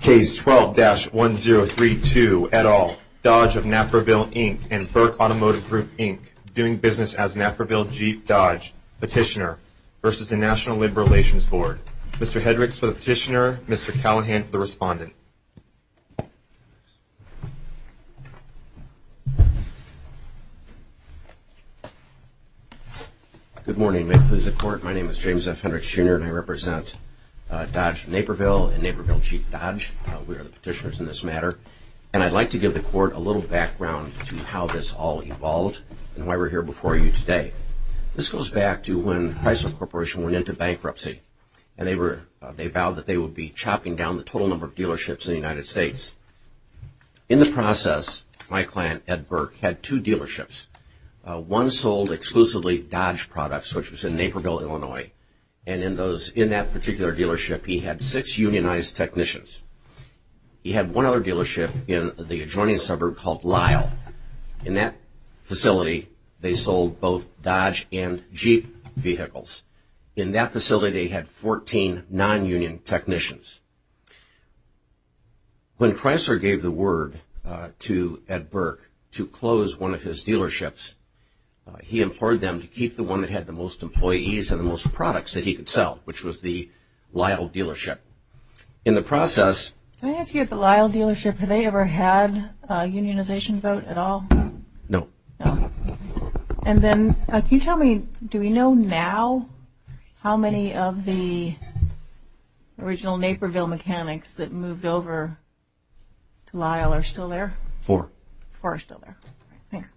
Case 12-1032, et al., Dodge of Naperville, Inc. and Burke Automotive Group, Inc., doing business as Naperville Jeep Dodge Petitioner v. National Limb Relations Board. Mr. Hendricks for the petitioner, Mr. Callahan for the respondent. James F. Hendricks, Jr. Good morning, members of the Court. My name is James F. Hendricks, Jr., and I represent Dodge of Naperville and Naperville Jeep Dodge. We are the petitioners in this matter, and I'd like to give the Court a little background to how this all evolved and why we're here before you today. This goes back to when Chrysler Corporation went into bankruptcy, and they vowed that In the process, my client, Ed Burke, had two dealerships. One sold exclusively Dodge products, which was in Naperville, Illinois. And in that particular dealership, he had six unionized technicians. He had one other dealership in the adjoining suburb called Lyle. In that facility, they sold both Dodge and Jeep vehicles. In that facility, they had 14 non-union technicians. When Chrysler gave the word to Ed Burke to close one of his dealerships, he implored them to keep the one that had the most employees and the most products that he could sell, which was the Lyle dealership. In the process... Can I ask you, at the Lyle dealership, have they ever had a unionization vote at all? No. And then, can you tell me, do we know now how many of the original Naperville mechanics that moved over to Lyle are still there? Four. Four are still there. Thanks.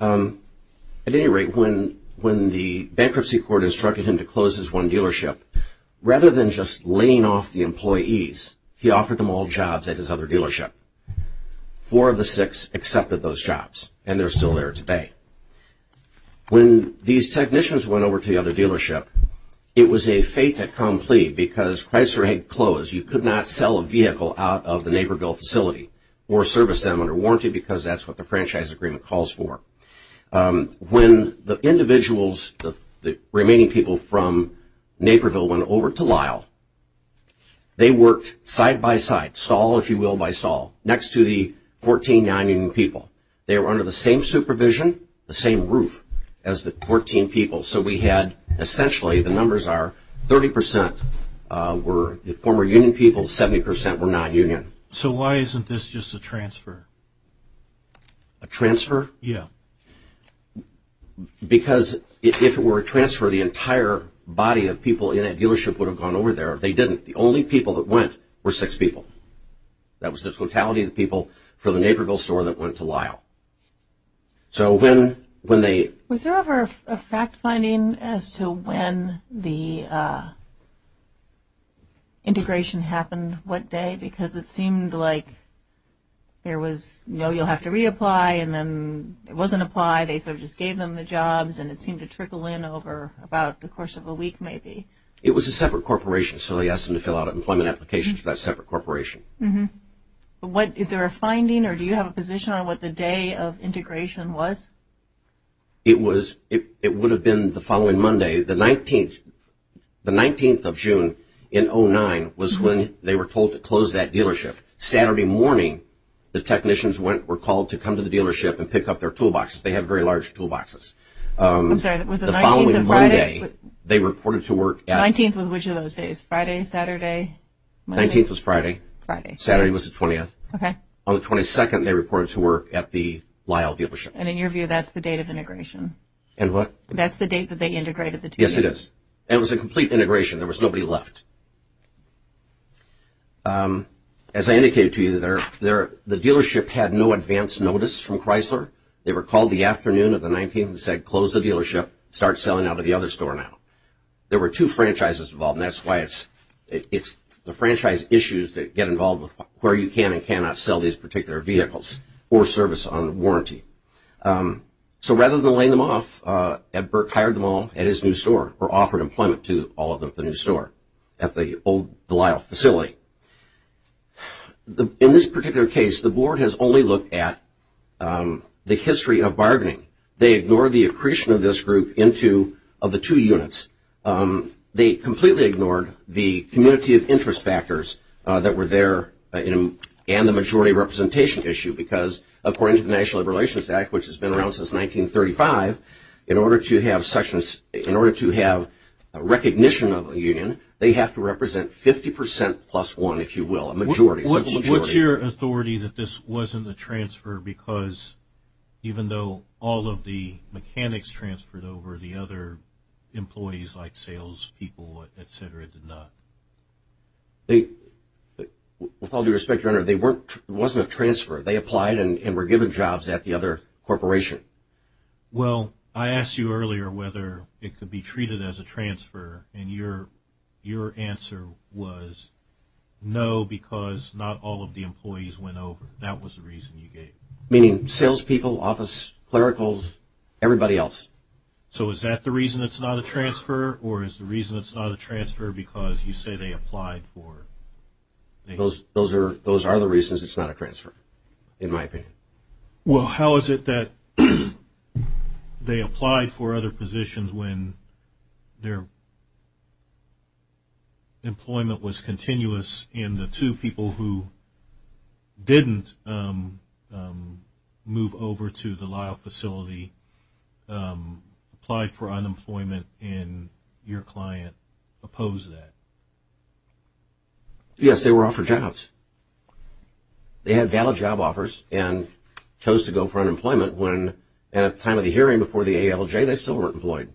At any rate, when the bankruptcy court instructed him to close his one dealership, rather than just laying off the employees, he offered them all jobs at his other dealership. Four of the six accepted those jobs, and they're still there today. When these technicians went over to the other dealership, it was a fait accompli because Chrysler had closed. You could not sell a vehicle out of the Naperville facility or service them under warranty because that's what the franchise agreement calls for. When the individuals, the remaining people from Naperville, went over to Lyle, they worked side-by-side, stall, if you will, by stall, next to the 14 non-union people. They were under the same supervision, the same roof, as the 14 people. So we had, essentially, the numbers are 30% were former union people, 70% were non-union. So why isn't this just a transfer? A transfer? Yeah. Because if it were a transfer, the entire body of people in that dealership would have gone over there. If they didn't, the only people that went were six people. That was the totality of the people from the Naperville store that went to Lyle. So when they… Was there ever a fact-finding as to when the integration happened? What day? Because it seemed like there was, no, you'll have to reapply, and then it wasn't apply. They sort of just gave them the jobs, and it seemed to trickle in over about the course of a week, maybe. It was a separate corporation, so they asked them to fill out an employment application for that separate corporation. Is there a finding, or do you have a position on what the day of integration was? It would have been the following Monday. The 19th of June in 2009 was when they were told to close that dealership. Saturday morning, the technicians were called to come to the dealership and pick up their toolboxes. They have very large toolboxes. I'm sorry. Was it the 19th of Friday? The following Monday, they reported to work at… 19th was which of those days? Friday, Saturday, Monday? 19th was Friday. Friday. Saturday was the 20th. Okay. On the 22nd, they reported to work at the Lyle dealership. And in your view, that's the date of integration? And what? That's the date that they integrated the dealership? Yes, it is. It was a complete integration. There was nobody left. As I indicated to you, the dealership had no advance notice from Chrysler. They were called the afternoon of the 19th and said, close the dealership, start selling out of the other store now. There were two franchises involved, and that's why it's the franchise issues that get involved with where you can and cannot sell these particular vehicles or service on warranty. So rather than laying them off, Ed Burke hired them all at his new store or offered employment to all of them at the new store. At the old Lyle facility. In this particular case, the board has only looked at the history of bargaining. They ignored the accretion of this group into the two units. They completely ignored the community of interest factors that were there and the majority representation issue because, according to the National Labor Relations Act, which has been around since 1935, in order to have a recognition of a union, they have to represent 50% plus one, if you will, a majority. What's your authority that this wasn't a transfer because, even though all of the mechanics transferred over, the other employees like salespeople, et cetera, did not? With all due respect, Your Honor, it wasn't a transfer. They applied and were given jobs at the other corporation. Well, I asked you earlier whether it could be treated as a transfer, and your answer was no because not all of the employees went over. That was the reason you gave. Meaning salespeople, office clericals, everybody else. So is that the reason it's not a transfer, or is the reason it's not a transfer because you say they applied for? Those are the reasons it's not a transfer, in my opinion. Well, how is it that they applied for other positions when their employment was continuous, and the two people who didn't move over to the Lyle facility applied for unemployment, and your client opposed that? Yes, they were offered jobs. They had valid job offers and chose to go for unemployment when at the time of the hearing before the ALJ they still weren't employed.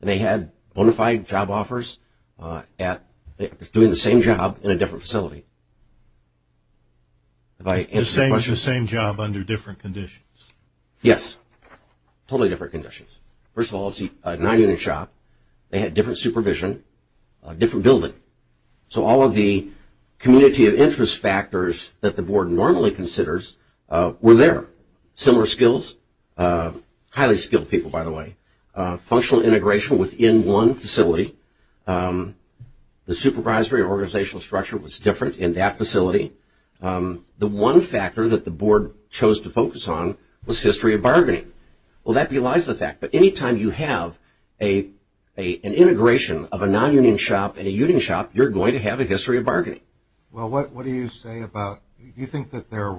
They had bona fide job offers doing the same job in a different facility. The same job under different conditions? Yes, totally different conditions. First of all, it's a nine-unit shop. They had different supervision, different building. So all of the community of interest factors that the board normally considers were there. Similar skills, highly skilled people, by the way. Functional integration within one facility. The supervisory organizational structure was different in that facility. The one factor that the board chose to focus on was history of bargaining. Well, that belies the fact, but any time you have an integration of a non-union shop and a union shop, you're going to have a history of bargaining. Well, what do you say about, do you think that they're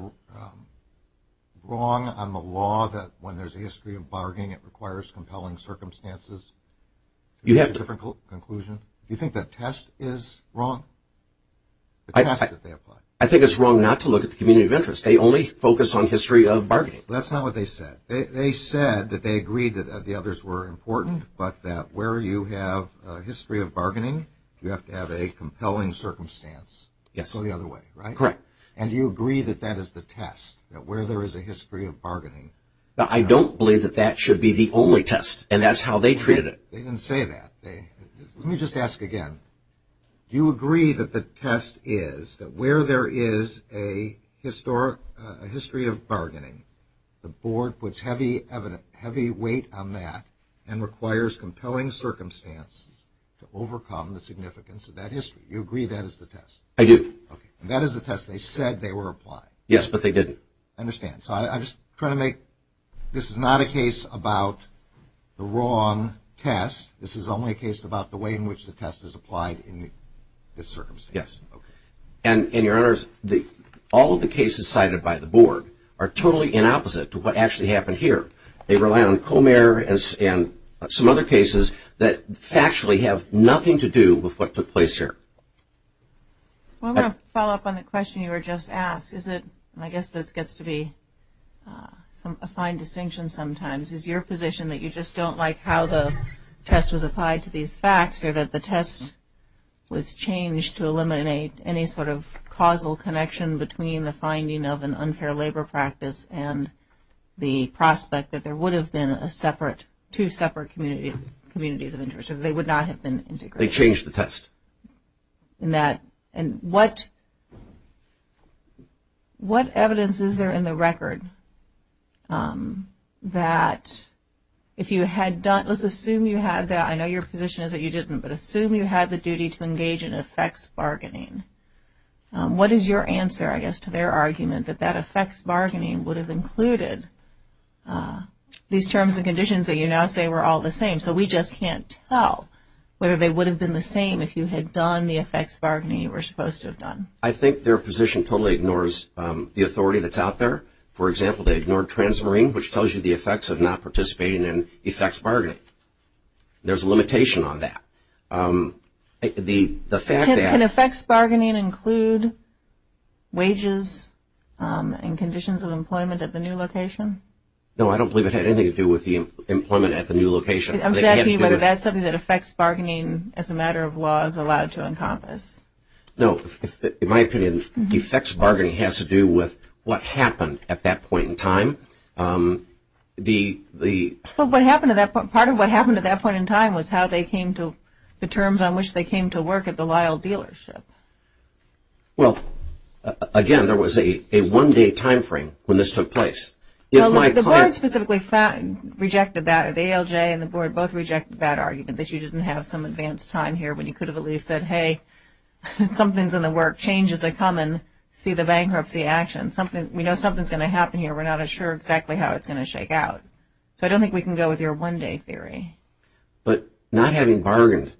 wrong on the law that when there's a history of bargaining it requires compelling circumstances to reach a different conclusion? Do you think that test is wrong? I think it's wrong not to look at the community of interest. They only focus on history of bargaining. That's not what they said. They said that they agreed that the others were important, but that where you have a history of bargaining, you have to have a compelling circumstance to go the other way, right? Correct. And do you agree that that is the test, that where there is a history of bargaining? I don't believe that that should be the only test, and that's how they treated it. They didn't say that. Let me just ask again. Do you agree that the test is that where there is a history of bargaining, the board puts heavy weight on that and requires compelling circumstances to overcome the significance of that history? Do you agree that is the test? I do. That is the test. They said they were applied. Yes, but they didn't. I understand. So I'm just trying to make, this is not a case about the wrong test. This is only a case about the way in which the test is applied in this circumstance. Yes. And, Your Honors, all of the cases cited by the board are totally inopposite to what actually happened here. They rely on Comer and some other cases that factually have nothing to do with what took place here. I want to follow up on the question you were just asked. I guess this gets to be a fine distinction sometimes. Is your position that you just don't like how the test was applied to these facts or that the test was changed to eliminate any sort of causal connection between the finding of an unfair labor practice and the prospect that there would have been two separate communities of interest, or they would not have been integrated? They changed the test. And what evidence is there in the record that if you had done, let's assume you had that, I know your position is that you didn't, but assume you had the duty to engage in effects bargaining. What is your answer, I guess, to their argument that that effects bargaining would have included these terms and conditions that you now say were all the same? So we just can't tell whether they would have been the same if you had done the effects bargaining you were supposed to have done. I think their position totally ignores the authority that's out there. For example, they ignored Transmarine, which tells you the effects of not participating in effects bargaining. There's a limitation on that. Can effects bargaining include wages and conditions of employment at the new location? No, I don't believe it had anything to do with the employment at the new location. I'm just asking you whether that's something that effects bargaining as a matter of law is allowed to encompass. No, in my opinion, Well, what happened at that point, part of what happened at that point in time was how they came to the terms on which they came to work at the Lyle dealership. Well, again, there was a one-day timeframe when this took place. The board specifically rejected that. The ALJ and the board both rejected that argument, that you didn't have some advanced time here when you could have at least said, hey, something's in the works, changes are coming, see the bankruptcy action. We know something's going to happen here. We're not sure exactly how it's going to shake out. So I don't think we can go with your one-day theory. But not having bargained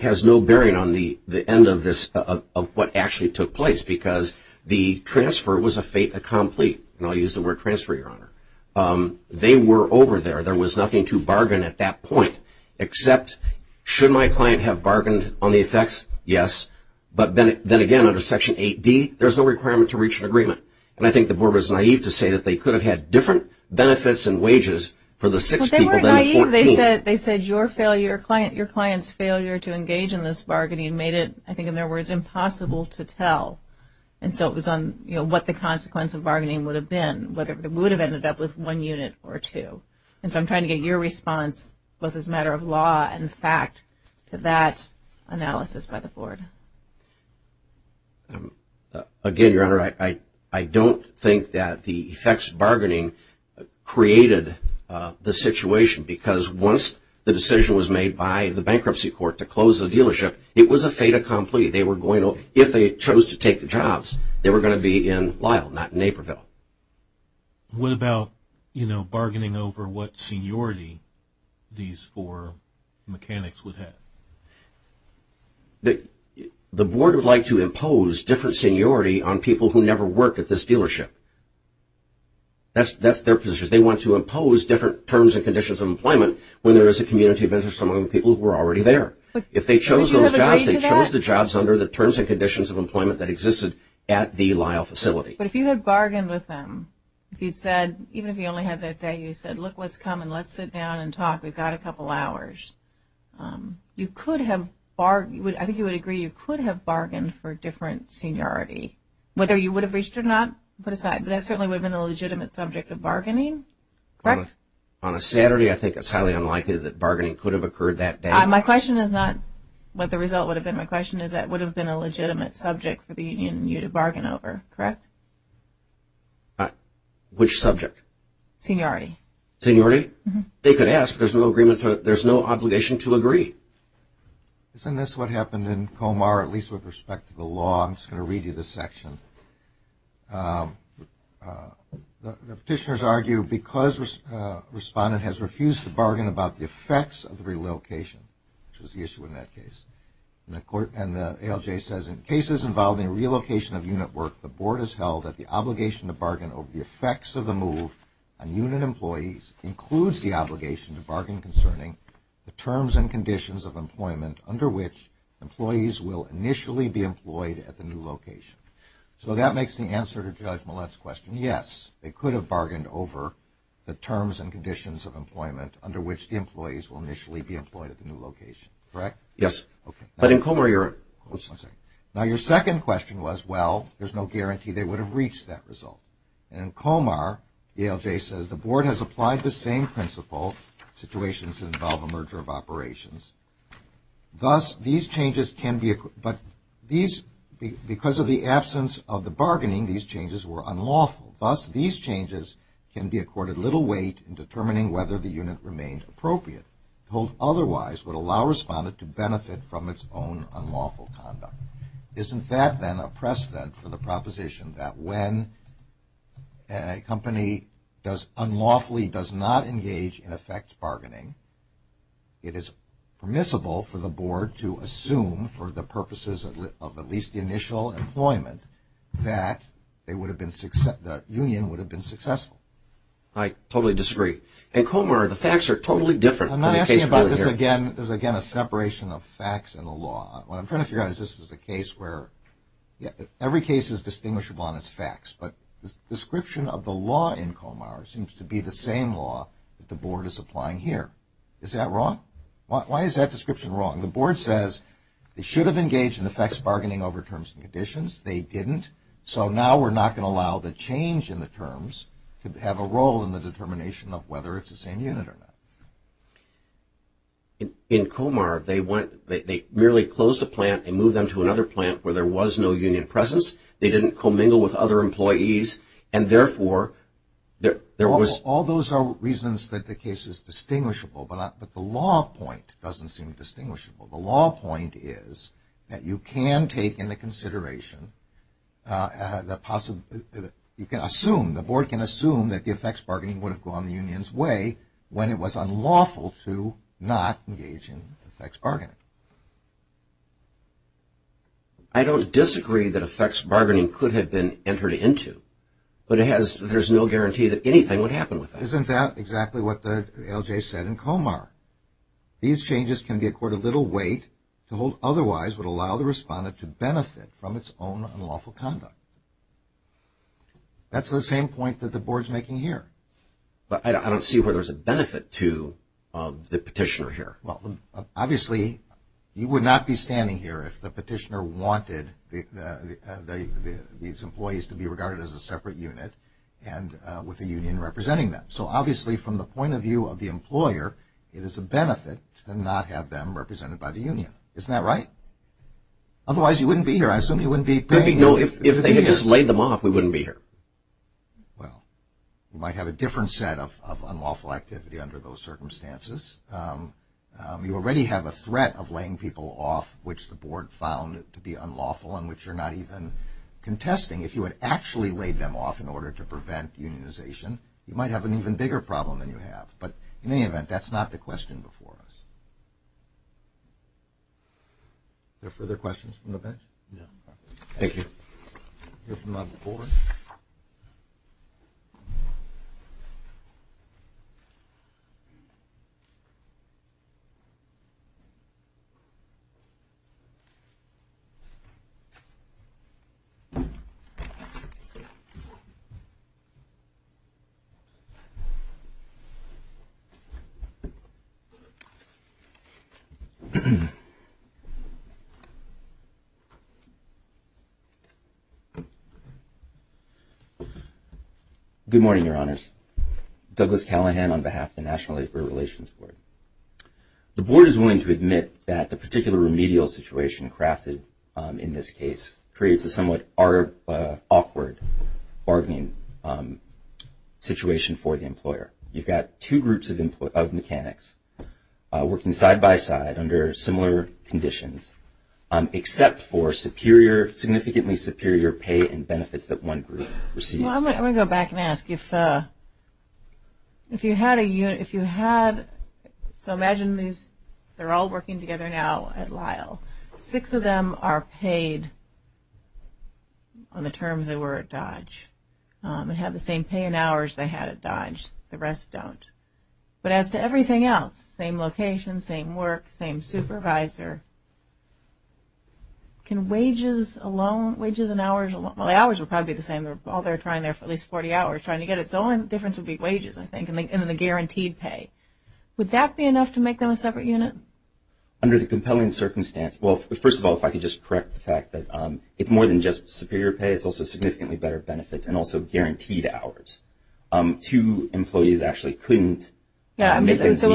has no bearing on the end of what actually took place because the transfer was a fait accompli. And I'll use the word transfer, Your Honor. They were over there. There was nothing to bargain at that point, except should my client have bargained on the effects, yes. And I think the board was naive to say that they could have had different benefits and wages for the six people than the 14. Well, they weren't naive. They said your client's failure to engage in this bargaining made it, I think in their words, impossible to tell. And so it was on what the consequence of bargaining would have been, whether it would have ended up with one unit or two. And so I'm trying to get your response, both as a matter of law and fact, to that analysis by the board. Again, Your Honor, I don't think that the effects of bargaining created the situation because once the decision was made by the bankruptcy court to close the dealership, it was a fait accompli. If they chose to take the jobs, they were going to be in Lyle, not Naperville. What about bargaining over what seniority these four mechanics would have? The board would like to impose different seniority on people who never worked at this dealership. That's their position. They want to impose different terms and conditions of employment when there is a community of interest among the people who are already there. If they chose those jobs, they chose the jobs under the terms and conditions of employment that existed at the Lyle facility. But if you had bargained with them, if you'd said, even if you only had that day, you said, look, let's come and let's sit down and talk. We've got a couple hours. You could have – I think you would agree you could have bargained for different seniority. Whether you would have reached or not, put aside, that certainly would have been a legitimate subject of bargaining, correct? On a Saturday, I think it's highly unlikely that bargaining could have occurred that day. My question is not what the result would have been. My question is that would have been a legitimate subject for the union and you to bargain over, correct? Which subject? Seniority. Seniority? They could ask. There's no obligation to agree. Isn't this what happened in Comar, at least with respect to the law? I'm just going to read you this section. The petitioners argue because a respondent has refused to bargain about the effects of relocation, which was the issue in that case, and the ALJ says in cases involving relocation of unit work, the board has held that the obligation to bargain over the effects of the move on unit employees includes the obligation to bargain concerning the terms and conditions of employment under which employees will initially be employed at the new location. So that makes the answer to Judge Millett's question, yes, they could have bargained over the terms and conditions of employment under which the employees will initially be employed at the new location, correct? Yes. But in Comar, you're – Now, your second question was, well, there's no guarantee they would have reached that result. And in Comar, the ALJ says the board has applied the same principle, situations that involve a merger of operations. Thus, these changes can be – but these – because of the absence of the bargaining, these changes were unlawful. Thus, these changes can be accorded little weight in determining whether the unit remained appropriate. The board told otherwise would allow a respondent to benefit from its own unlawful conduct. Isn't that then a precedent for the proposition that when a company does – unlawfully does not engage in effect bargaining, it is permissible for the board to assume for the purposes of at least the initial employment that they would have been – the union would have been successful? I totally disagree. In Comar, the facts are totally different. I'm not asking about this again. This is, again, a separation of facts and the law. What I'm trying to figure out is this is a case where every case is distinguishable on its facts, but the description of the law in Comar seems to be the same law that the board is applying here. Is that wrong? Why is that description wrong? The board says they should have engaged in effects bargaining over terms and conditions. They didn't. So now we're not going to allow the change in the terms to have a role in the determination of whether it's the same unit or not. In Comar, they went – they merely closed a plant and moved them to another plant where there was no union presence. They didn't commingle with other employees, and therefore, there was – All those are reasons that the case is distinguishable, but the law point doesn't seem distinguishable. The law point is that you can take into consideration the – you can assume, the board can assume that the effects bargaining would have gone the union's way when it was unlawful to not engage in effects bargaining. I don't disagree that effects bargaining could have been entered into, but it has – there's no guarantee that anything would happen with that. Isn't that exactly what the LJ said in Comar? These changes can be accorded little weight to hold otherwise would allow the respondent to benefit from its own unlawful conduct. That's the same point that the board's making here. But I don't see where there's a benefit to the petitioner here. Well, obviously, you would not be standing here if the petitioner wanted these employees to be regarded as a separate unit and with the union representing them. So, obviously, from the point of view of the employer, it is a benefit to not have them represented by the union. Isn't that right? Otherwise, you wouldn't be here. I assume you wouldn't be paying – No, if they had just laid them off, we wouldn't be here. Well, you might have a different set of unlawful activity under those circumstances. You already have a threat of laying people off, which the board found to be unlawful and which you're not even contesting. If you had actually laid them off in order to prevent unionization, you might have an even bigger problem than you have. But in any event, that's not the question before us. Are there further questions from the bench? No. Thank you. We'll hear from the board. Douglas Callahan, National Labor Relations Board Good morning, Your Honors. Douglas Callahan on behalf of the National Labor Relations Board. The board is willing to admit that the particular remedial situation crafted in this case creates a somewhat awkward bargaining situation for the employer. You've got two groups of mechanics working side-by-side under similar conditions, except for significantly superior pay and benefits that one group receives. Well, I'm going to go back and ask. If you had – so imagine they're all working together now at Lyle. Six of them are paid on the terms they were at Dodge and have the same pay and hours they had at Dodge. The rest don't. But as to everything else, same location, same work, same supervisor, can wages alone – wages and hours alone – well, the hours would probably be the same. They're all there trying there for at least 40 hours trying to get it. So the only difference would be wages, I think, and then the guaranteed pay. Would that be enough to make them a separate unit? Under the compelling circumstance – well, first of all, if I could just correct the fact that it's more than just superior pay. It's also significantly better benefits and also guaranteed hours. Two employees actually couldn't. So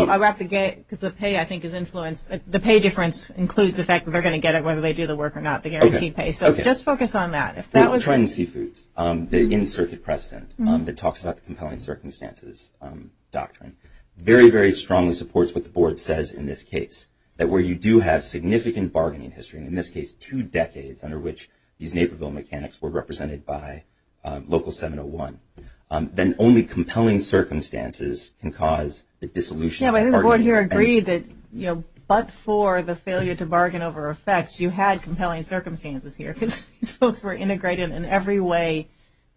I'll wrap the gate because the pay, I think, is influenced. The pay difference includes the fact that they're going to get it whether they do the work or not, the guaranteed pay. So just focus on that. Try and see foods. The in-circuit precedent that talks about the compelling circumstances doctrine very, very strongly supports what the board says in this case, that where you do have significant bargaining history, in this case, two decades under which these Naperville mechanics were represented by local 701, then only compelling circumstances can cause the dissolution of bargaining. Yeah, but I think the board here agreed that, you know, but for the failure to bargain over effects, you had compelling circumstances here because these folks were integrated in every way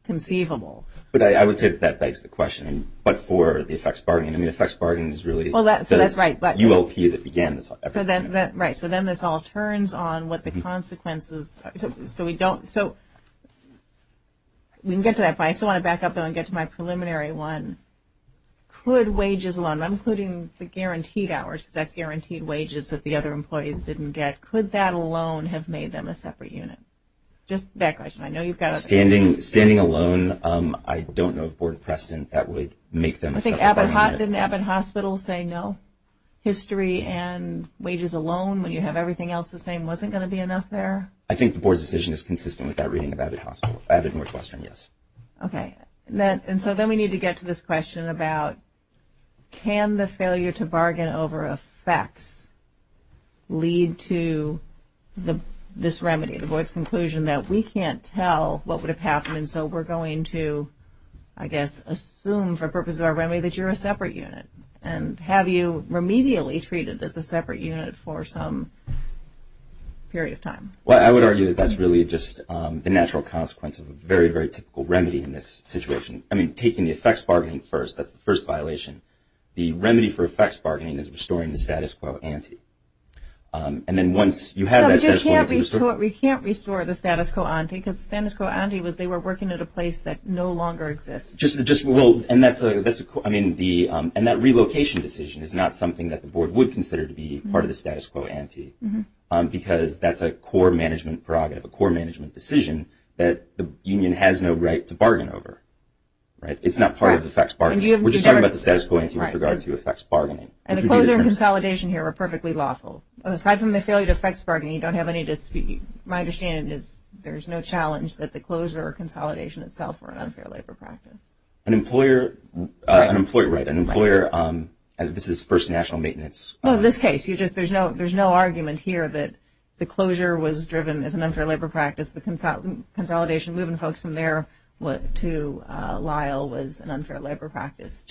conceivable. But I would say that that begs the question. But for the effects bargaining, I mean, effects bargaining is really the ULP that began this. Right. So then this all turns on what the consequences. So we can get to that, but I still want to back up and get to my preliminary one. Could wages alone, including the guaranteed hours, because that's guaranteed wages that the other employees didn't get, could that alone have made them a separate unit? Just that question. Standing alone, I don't know of board precedent that would make them a separate unit. Didn't Abbott Hospital say no? History and wages alone, when you have everything else the same, wasn't going to be enough there? I think the board's decision is consistent with that reading of Abbott Hospital, Abbott Northwestern, yes. Okay. And so then we need to get to this question about can the failure to bargain over effects lead to this remedy, the board's conclusion that we can't tell what would have happened, and so we're going to, I guess, assume for the purpose of our remedy that you're a separate unit. And have you remedially treated as a separate unit for some period of time? Well, I would argue that that's really just the natural consequence of a very, very typical remedy in this situation. I mean, taking the effects bargaining first, that's the first violation. The remedy for effects bargaining is restoring the status quo ante. And then once you have that status quo ante. We can't restore the status quo ante because the status quo ante was they were working at a place that no longer exists. And that relocation decision is not something that the board would consider to be part of the status quo ante because that's a core management prerogative, a core management decision that the union has no right to bargain over. It's not part of the effects bargaining. We're just talking about the status quo ante with regard to effects bargaining. And the closure and consolidation here are perfectly lawful. Aside from the failure to effects bargain, you don't have any dispute. My understanding is there's no challenge that the closure or consolidation itself were an unfair labor practice. An employer, right, an employer, and this is first national maintenance. Well, in this case, there's no argument here that the closure was driven as an unfair labor practice. The consolidation, moving folks from there to Lyle was an unfair labor practice.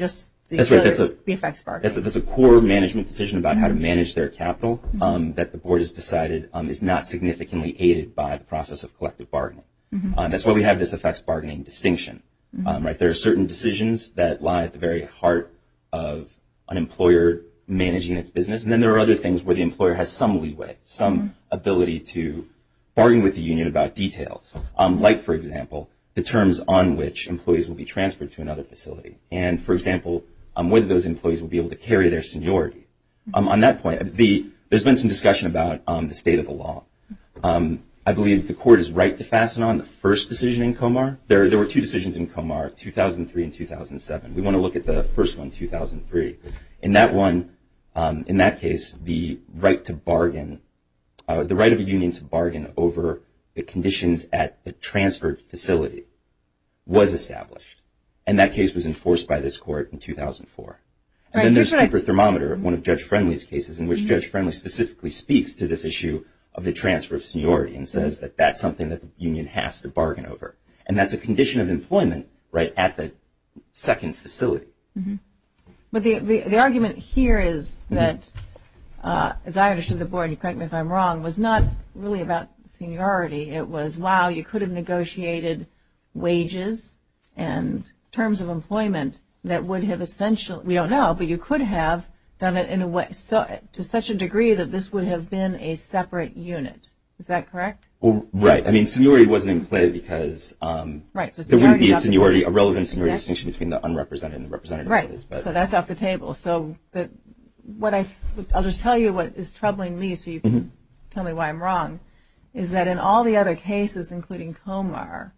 That's right. That's a core management decision about how to manage their capital that the board has decided is not significantly aided by the process of collective bargaining. That's why we have this effects bargaining distinction, right? There are certain decisions that lie at the very heart of an employer managing its business. And then there are other things where the employer has some leeway, some ability to bargain with the union about details. Like, for example, the terms on which employees will be transferred to another facility. And, for example, whether those employees will be able to carry their seniority. On that point, there's been some discussion about the state of the law. I believe the court is right to fasten on the first decision in Comar. There were two decisions in Comar, 2003 and 2007. We want to look at the first one, 2003. In that one, in that case, the right of a union to bargain over the conditions at the transferred facility was established. And that case was enforced by this court in 2004. And then there's Comar Thermometer, one of Judge Friendly's cases, in which Judge Friendly specifically speaks to this issue of the transfer of seniority and says that that's something that the union has to bargain over. And that's a condition of employment, right, at the second facility. But the argument here is that, as I understood the board, correct me if I'm wrong, was not really about seniority. It was, wow, you could have negotiated wages and terms of employment that would have essentially, we don't know, but you could have done it in a way to such a degree that this would have been a separate unit. Is that correct? Right. I mean, seniority wasn't in play because there wouldn't be a seniority, a relevant seniority distinction between the unrepresented and the representative. Right. So that's off the table. So I'll just tell you what is troubling me so you can tell me why I'm wrong, is that in all the other cases, including Comar,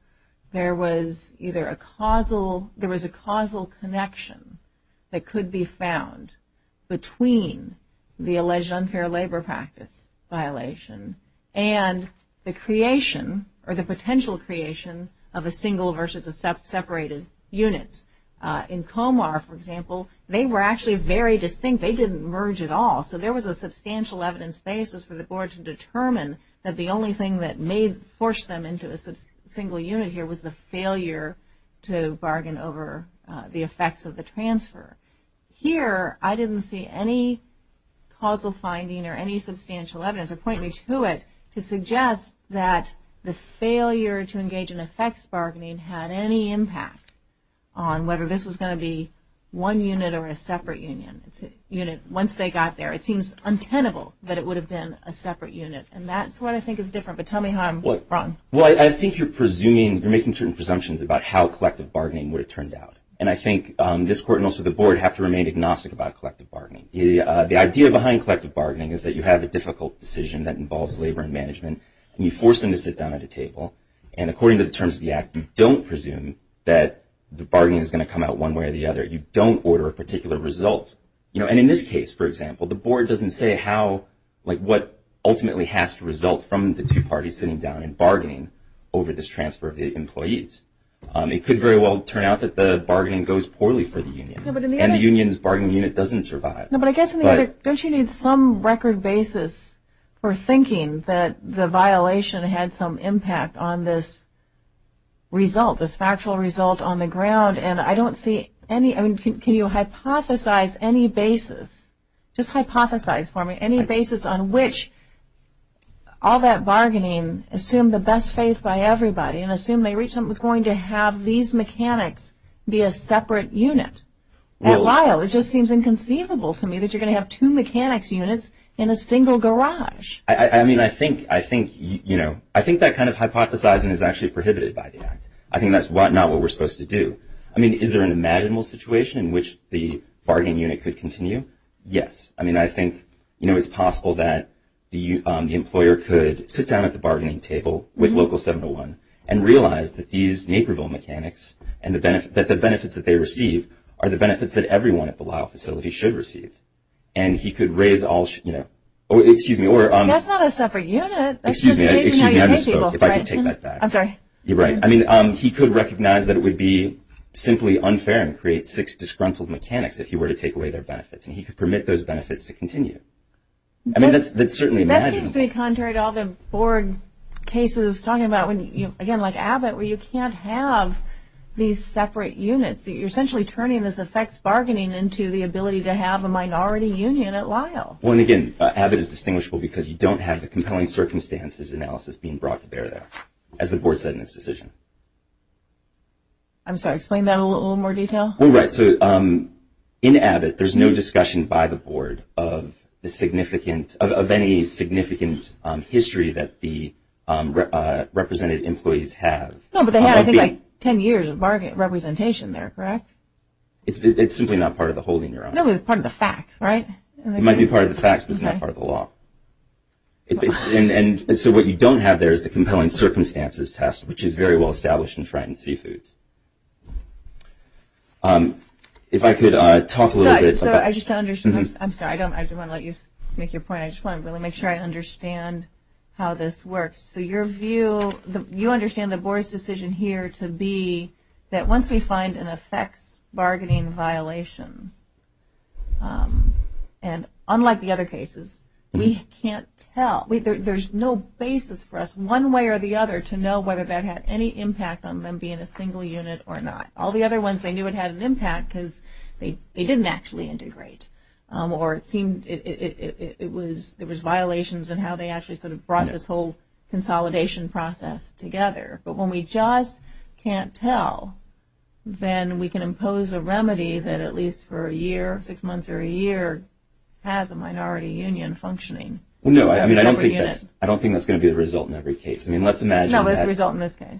there was either a causal, there was a causal connection that could be found between the alleged unfair labor practice violation and the creation or the potential creation of a single versus a separated units. In Comar, for example, they were actually very distinct. They didn't merge at all. So there was a substantial evidence basis for the board to determine that the only thing that may force them into a single unit here was the failure to bargain over the effects of the transfer. Here, I didn't see any causal finding or any substantial evidence, or point me to it, to suggest that the failure to engage in effects bargaining had any impact on whether this was going to be one unit or a separate unit. Once they got there, it seems untenable that it would have been a separate unit. And that's what I think is different. But tell me how I'm wrong. Well, I think you're presuming, you're making certain presumptions about how collective bargaining would have turned out. And I think this court and also the board have to remain agnostic about collective bargaining. The idea behind collective bargaining is that you have a difficult decision that involves labor and management, and you force them to sit down at a table. And according to the terms of the act, you don't presume that the bargaining is going to come out one way or the other. You don't order a particular result. And in this case, for example, the board doesn't say how, like what ultimately has to result from the two parties sitting down and bargaining over this transfer of the employees. It could very well turn out that the bargaining goes poorly for the union. And the union's bargaining unit doesn't survive. No, but I guess, don't you need some record basis for thinking that the violation had some impact on this result, this factual result on the ground? And I don't see any, I mean, can you hypothesize any basis? Just hypothesize for me any basis on which all that bargaining assumed the best faith by everybody and assumed they reached something that was going to have these mechanics be a separate unit. At Lyle, it just seems inconceivable to me that you're going to have two mechanics units in a single garage. I mean, I think, you know, I think that kind of hypothesizing is actually prohibited by the act. I think that's not what we're supposed to do. I mean, is there an imaginable situation in which the bargaining unit could continue? Yes. I mean, I think, you know, it's possible that the employer could sit down at the bargaining table with local 701 and realize that these Naperville mechanics and the benefits that they receive are the benefits that everyone at the Lyle facility should receive. And he could raise all, you know, excuse me. That's not a separate unit. Excuse me, excuse me, I misspoke. If I could take that back. I'm sorry. You're right. I mean, he could recognize that it would be simply unfair and create six disgruntled mechanics if he were to take away their benefits. And he could permit those benefits to continue. I mean, that's certainly imaginable. That seems to be contrary to all the board cases talking about when, again, like Abbott, where you can't have these separate units. You're essentially turning this effects bargaining into the ability to have a minority union at Lyle. Well, and again, Abbott is distinguishable because you don't have the compelling circumstances analysis being brought to bear there, as the board said in its decision. I'm sorry, explain that in a little more detail. Well, right. So in Abbott, there's no discussion by the board of any significant history that the represented employees have. No, but they had, I think, like ten years of representation there, correct? It's simply not part of the holding your own. No, but it's part of the facts, right? It might be part of the facts, but it's not part of the law. And so what you don't have there is the compelling circumstances test, which is very well established in frightened seafoods. If I could talk a little bit. I'm sorry, I just want to let you make your point. I just want to really make sure I understand how this works. So your view, you understand the board's decision here to be that once we find an effects bargaining violation, and unlike the other cases, we can't tell. There's no basis for us, one way or the other, to know whether that had any impact on them being a single unit or not. All the other ones, they knew it had an impact because they didn't actually integrate, or it seemed there was violations in how they actually sort of brought this whole consolidation process together. But when we just can't tell, then we can impose a remedy that at least for a year, six months or a year, has a minority union functioning. No, I mean, I don't think that's going to be the result in every case. I mean, let's imagine that. No, it's the result in this case.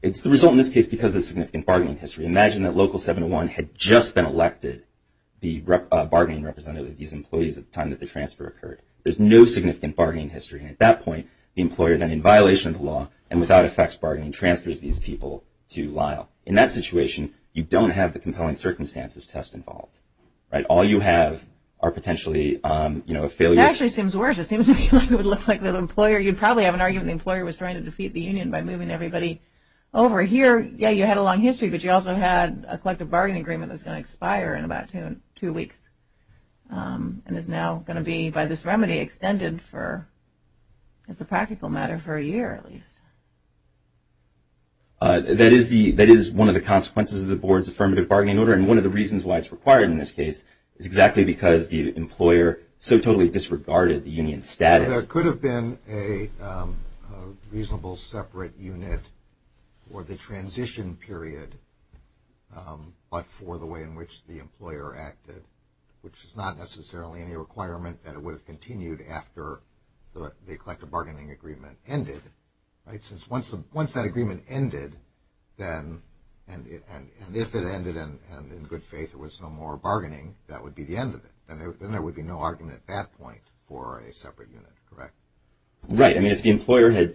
It's the result in this case because of significant bargaining history. Imagine that Local 701 had just been elected the bargaining representative of these employees at the time that the transfer occurred. There's no significant bargaining history. And at that point, the employer then, in violation of the law and without effects bargaining, transfers these people to Lyle. In that situation, you don't have the compelling circumstances test involved, right? All you have are potentially, you know, a failure. It actually seems worse. It seems like it would look like the employer, you'd probably have an argument the employer was trying to defeat the union by moving everybody over here. Yeah, you had a long history, but you also had a collective bargaining agreement that's going to expire in about two weeks and is now going to be, by this remedy, extended for, as a practical matter, for a year at least. That is one of the consequences of the board's affirmative bargaining order, and one of the reasons why it's required in this case is exactly because the employer so totally disregarded the union's status. So there could have been a reasonable separate unit for the transition period, but for the way in which the employer acted, which is not necessarily any requirement that it would have continued after the collective bargaining agreement ended, right? Since once that agreement ended, then, and if it ended and in good faith there was no more bargaining, that would be the end of it. Then there would be no argument at that point for a separate unit, correct? Right. I mean, if the employer had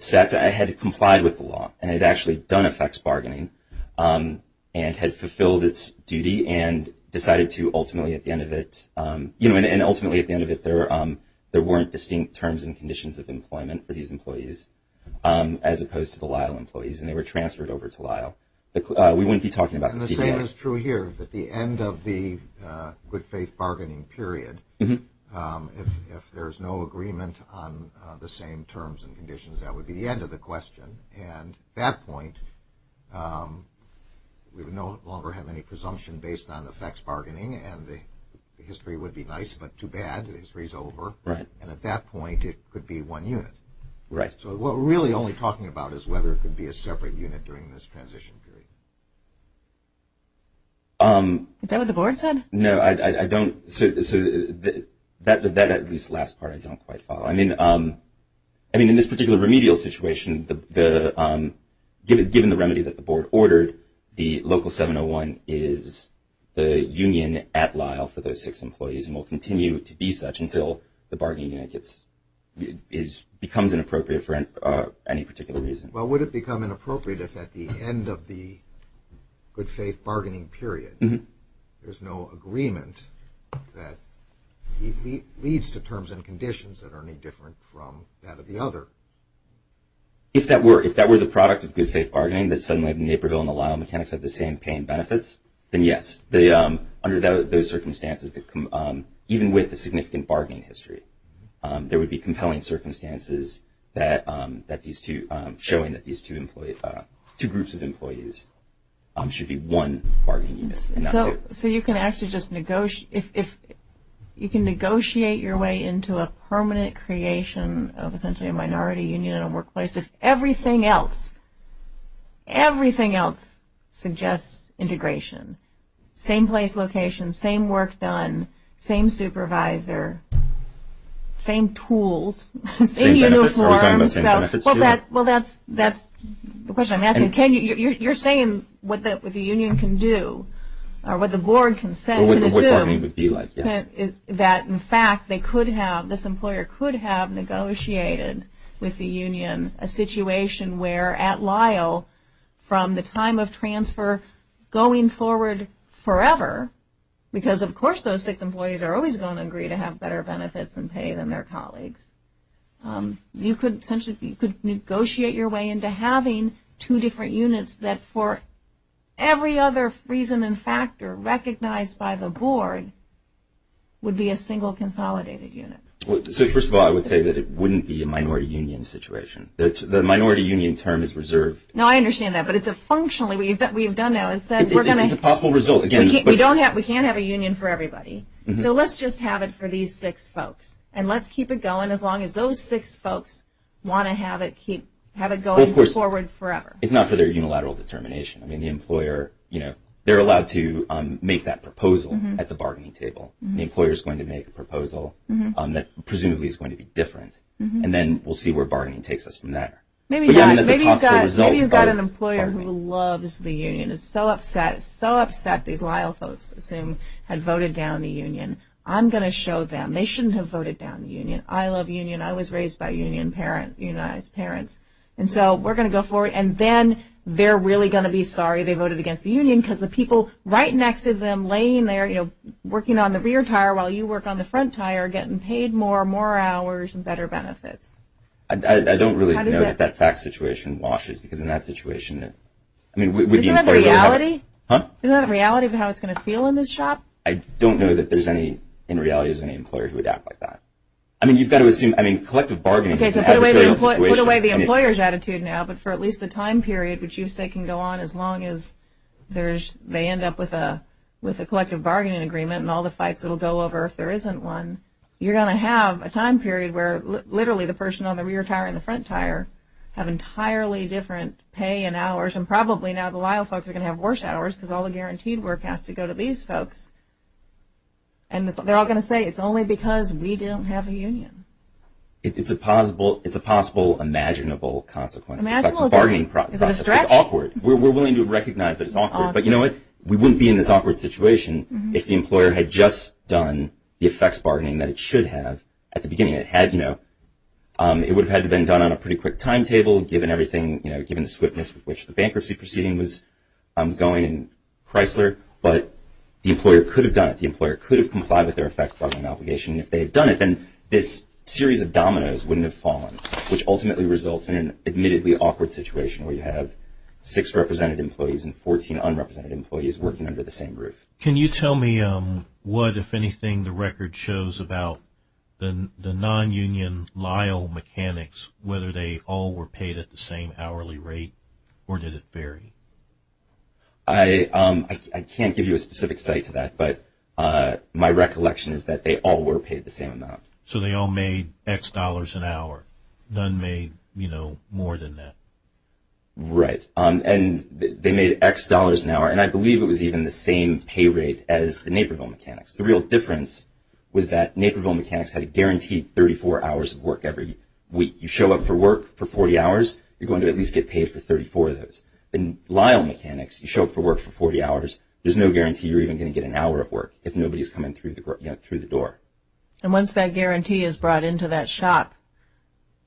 complied with the law and had actually done a fax bargaining and had fulfilled its duty and decided to ultimately at the end of it, you know, and ultimately at the end of it there weren't distinct terms and conditions of employment for these employees, as opposed to the Lyle employees and they were transferred over to Lyle. We wouldn't be talking about the CBO. The same is true here. At the end of the good faith bargaining period, if there's no agreement on the same terms and conditions, that would be the end of the question. And at that point, we would no longer have any presumption based on the fax bargaining and the history would be nice, but too bad. The history's over. Right. And at that point, it could be one unit. Right. So what we're really only talking about is whether it could be a separate unit during this transition period. Is that what the board said? No, I don't. That at least last part I don't quite follow. I mean, in this particular remedial situation, given the remedy that the board ordered, the local 701 is the union at Lyle for those six employees and will continue to be such until the bargaining unit becomes inappropriate for any particular reason. Well, would it become inappropriate if at the end of the good faith bargaining period, there's no agreement that leads to terms and conditions that are any different from that of the other? If that were the product of good faith bargaining, that suddenly Naperville and the Lyle mechanics have the same pay and benefits, then yes. Under those circumstances, even with the significant bargaining history, there would be compelling circumstances showing that these two groups of employees should be one bargaining unit. So you can actually just negotiate your way into a permanent creation of essentially a minority union in a workplace if everything else, everything else suggests integration. Same place, location, same work done, same supervisor, same tools, same uniform. Well, that's the question I'm asking. You're saying what the union can do, or what the board can say, that in fact they could have, this employer could have negotiated with the union a situation where at Lyle, from the time of transfer going forward forever, because of course those six employees are always going to agree to have better benefits and pay than their colleagues. You could negotiate your way into having two different units that for every other reason and factor recognized by the board would be a single consolidated unit. So first of all, I would say that it wouldn't be a minority union situation. The minority union term is reserved. No, I understand that, but it's a functionally we've done now. It's a possible result. We can't have a union for everybody, so let's just have it for these six folks, and let's keep it going as long as those six folks want to have it going forward forever. It's not for their unilateral determination. I mean, the employer, you know, they're allowed to make that proposal at the bargaining table. The employer is going to make a proposal that presumably is going to be different, and then we'll see where bargaining takes us from there. Maybe you've got an employer who loves the union, is so upset, so upset these Lyle folks, assume, had voted down the union. I'm going to show them they shouldn't have voted down the union. I love union. I was raised by unionized parents, and so we're going to go forward, and then they're really going to be sorry they voted against the union because the people right next to them laying there, you know, working on the rear tire while you work on the front tire are getting paid more, more hours, and better benefits. I don't really know that that fact situation washes, because in that situation, I mean, with the employer going to have it. Isn't that a reality? Huh? Isn't that a reality of how it's going to feel in this shop? I don't know that there's any, in reality, there's any employer who would act like that. I mean, you've got to assume, I mean, collective bargaining is an adversarial situation. Put away the employer's attitude now, but for at least the time period, which you say can go on as long as they end up with a collective bargaining agreement and all the fights it will go over if there isn't one, you're going to have a time period where literally the person on the rear tire and the front tire have entirely different pay and hours, and probably now the Lyle folks are going to have worse hours because all the guaranteed work has to go to these folks. And they're all going to say it's only because we don't have a union. It's a possible, it's a possible imaginable consequence. The bargaining process is awkward. We're willing to recognize that it's awkward. But you know what? We wouldn't be in this awkward situation if the employer had just done the effects bargaining that it should have at the beginning. It had, you know, it would have had to have been done on a pretty quick timetable given everything, you know, given the swiftness with which the bankruptcy proceeding was going in Chrysler. But the employer could have done it. The employer could have complied with their effects bargaining obligation. If they had done it, then this series of dominoes wouldn't have fallen, which ultimately results in an admittedly awkward situation where you have six represented employees and 14 unrepresented employees working under the same roof. Can you tell me what, if anything, the record shows about the non-union Lyle mechanics, whether they all were paid at the same hourly rate, or did it vary? I can't give you a specific site to that, but my recollection is that they all were paid the same amount. So they all made X dollars an hour. None made, you know, more than that. Right. And they made X dollars an hour, and I believe it was even the same pay rate as the Naperville mechanics. The real difference was that Naperville mechanics had a guaranteed 34 hours of work every week. You show up for work for 40 hours, you're going to at least get paid for 34 of those. In Lyle mechanics, you show up for work for 40 hours, there's no guarantee you're even going to get an hour of work if nobody is coming through the door. And once that guarantee is brought into that shop,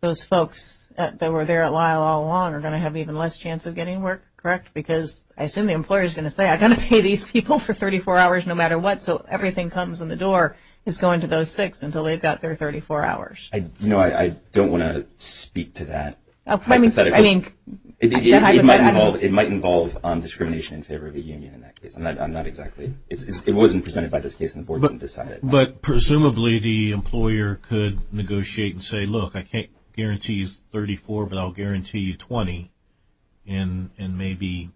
those folks that were there at Lyle all along are going to have even less chance of getting work, correct? Because I assume the employer is going to say, I'm going to pay these people for 34 hours no matter what, so everything comes in the door is going to those six until they've got their 34 hours. You know, I don't want to speak to that hypothetically. It might involve discrimination in favor of the union in that case. I'm not exactly – it wasn't presented by this case and the board didn't decide it. But presumably the employer could negotiate and say, look, I can't guarantee you 34, but I'll guarantee you 20, and maybe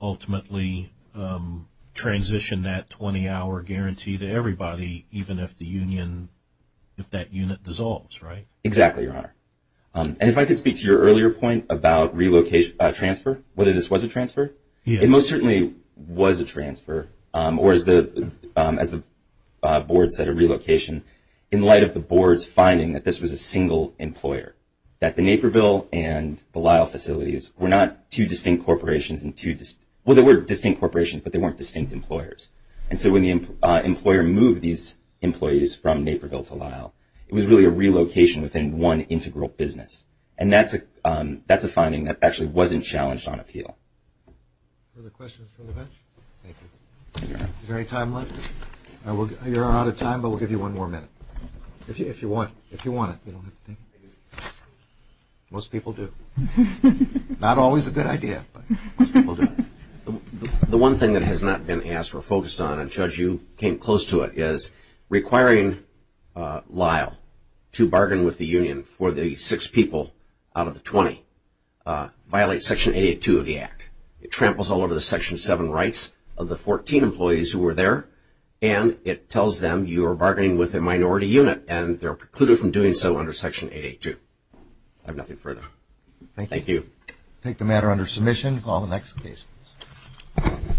ultimately transition that 20-hour guarantee to everybody, even if the union – if that unit dissolves, right? Exactly, Your Honor. And if I could speak to your earlier point about relocation – transfer, whether this was a transfer. It most certainly was a transfer, or as the board said, a relocation, in light of the board's finding that this was a single employer, that the Naperville and the Lyle facilities were not two distinct corporations and two – well, they were distinct corporations, but they weren't distinct employers. And so when the employer moved these employees from Naperville to Lyle, it was really a relocation within one integral business. And that's a finding that actually wasn't challenged on appeal. Other questions from the bench? Thank you. Is there any time left? You're out of time, but we'll give you one more minute. If you want it. Most people do. Not always a good idea, but most people do. The one thing that has not been asked or focused on, and Judge, you came close to it, is requiring Lyle to bargain with the union for the six people out of the 20, violates Section 882 of the Act. It tramples all over the Section 7 rights of the 14 employees who were there, and it tells them you are bargaining with a minority unit, and they're precluded from doing so under Section 882. I have nothing further. Thank you. Thank you. We'll take the matter under submission and call the next case.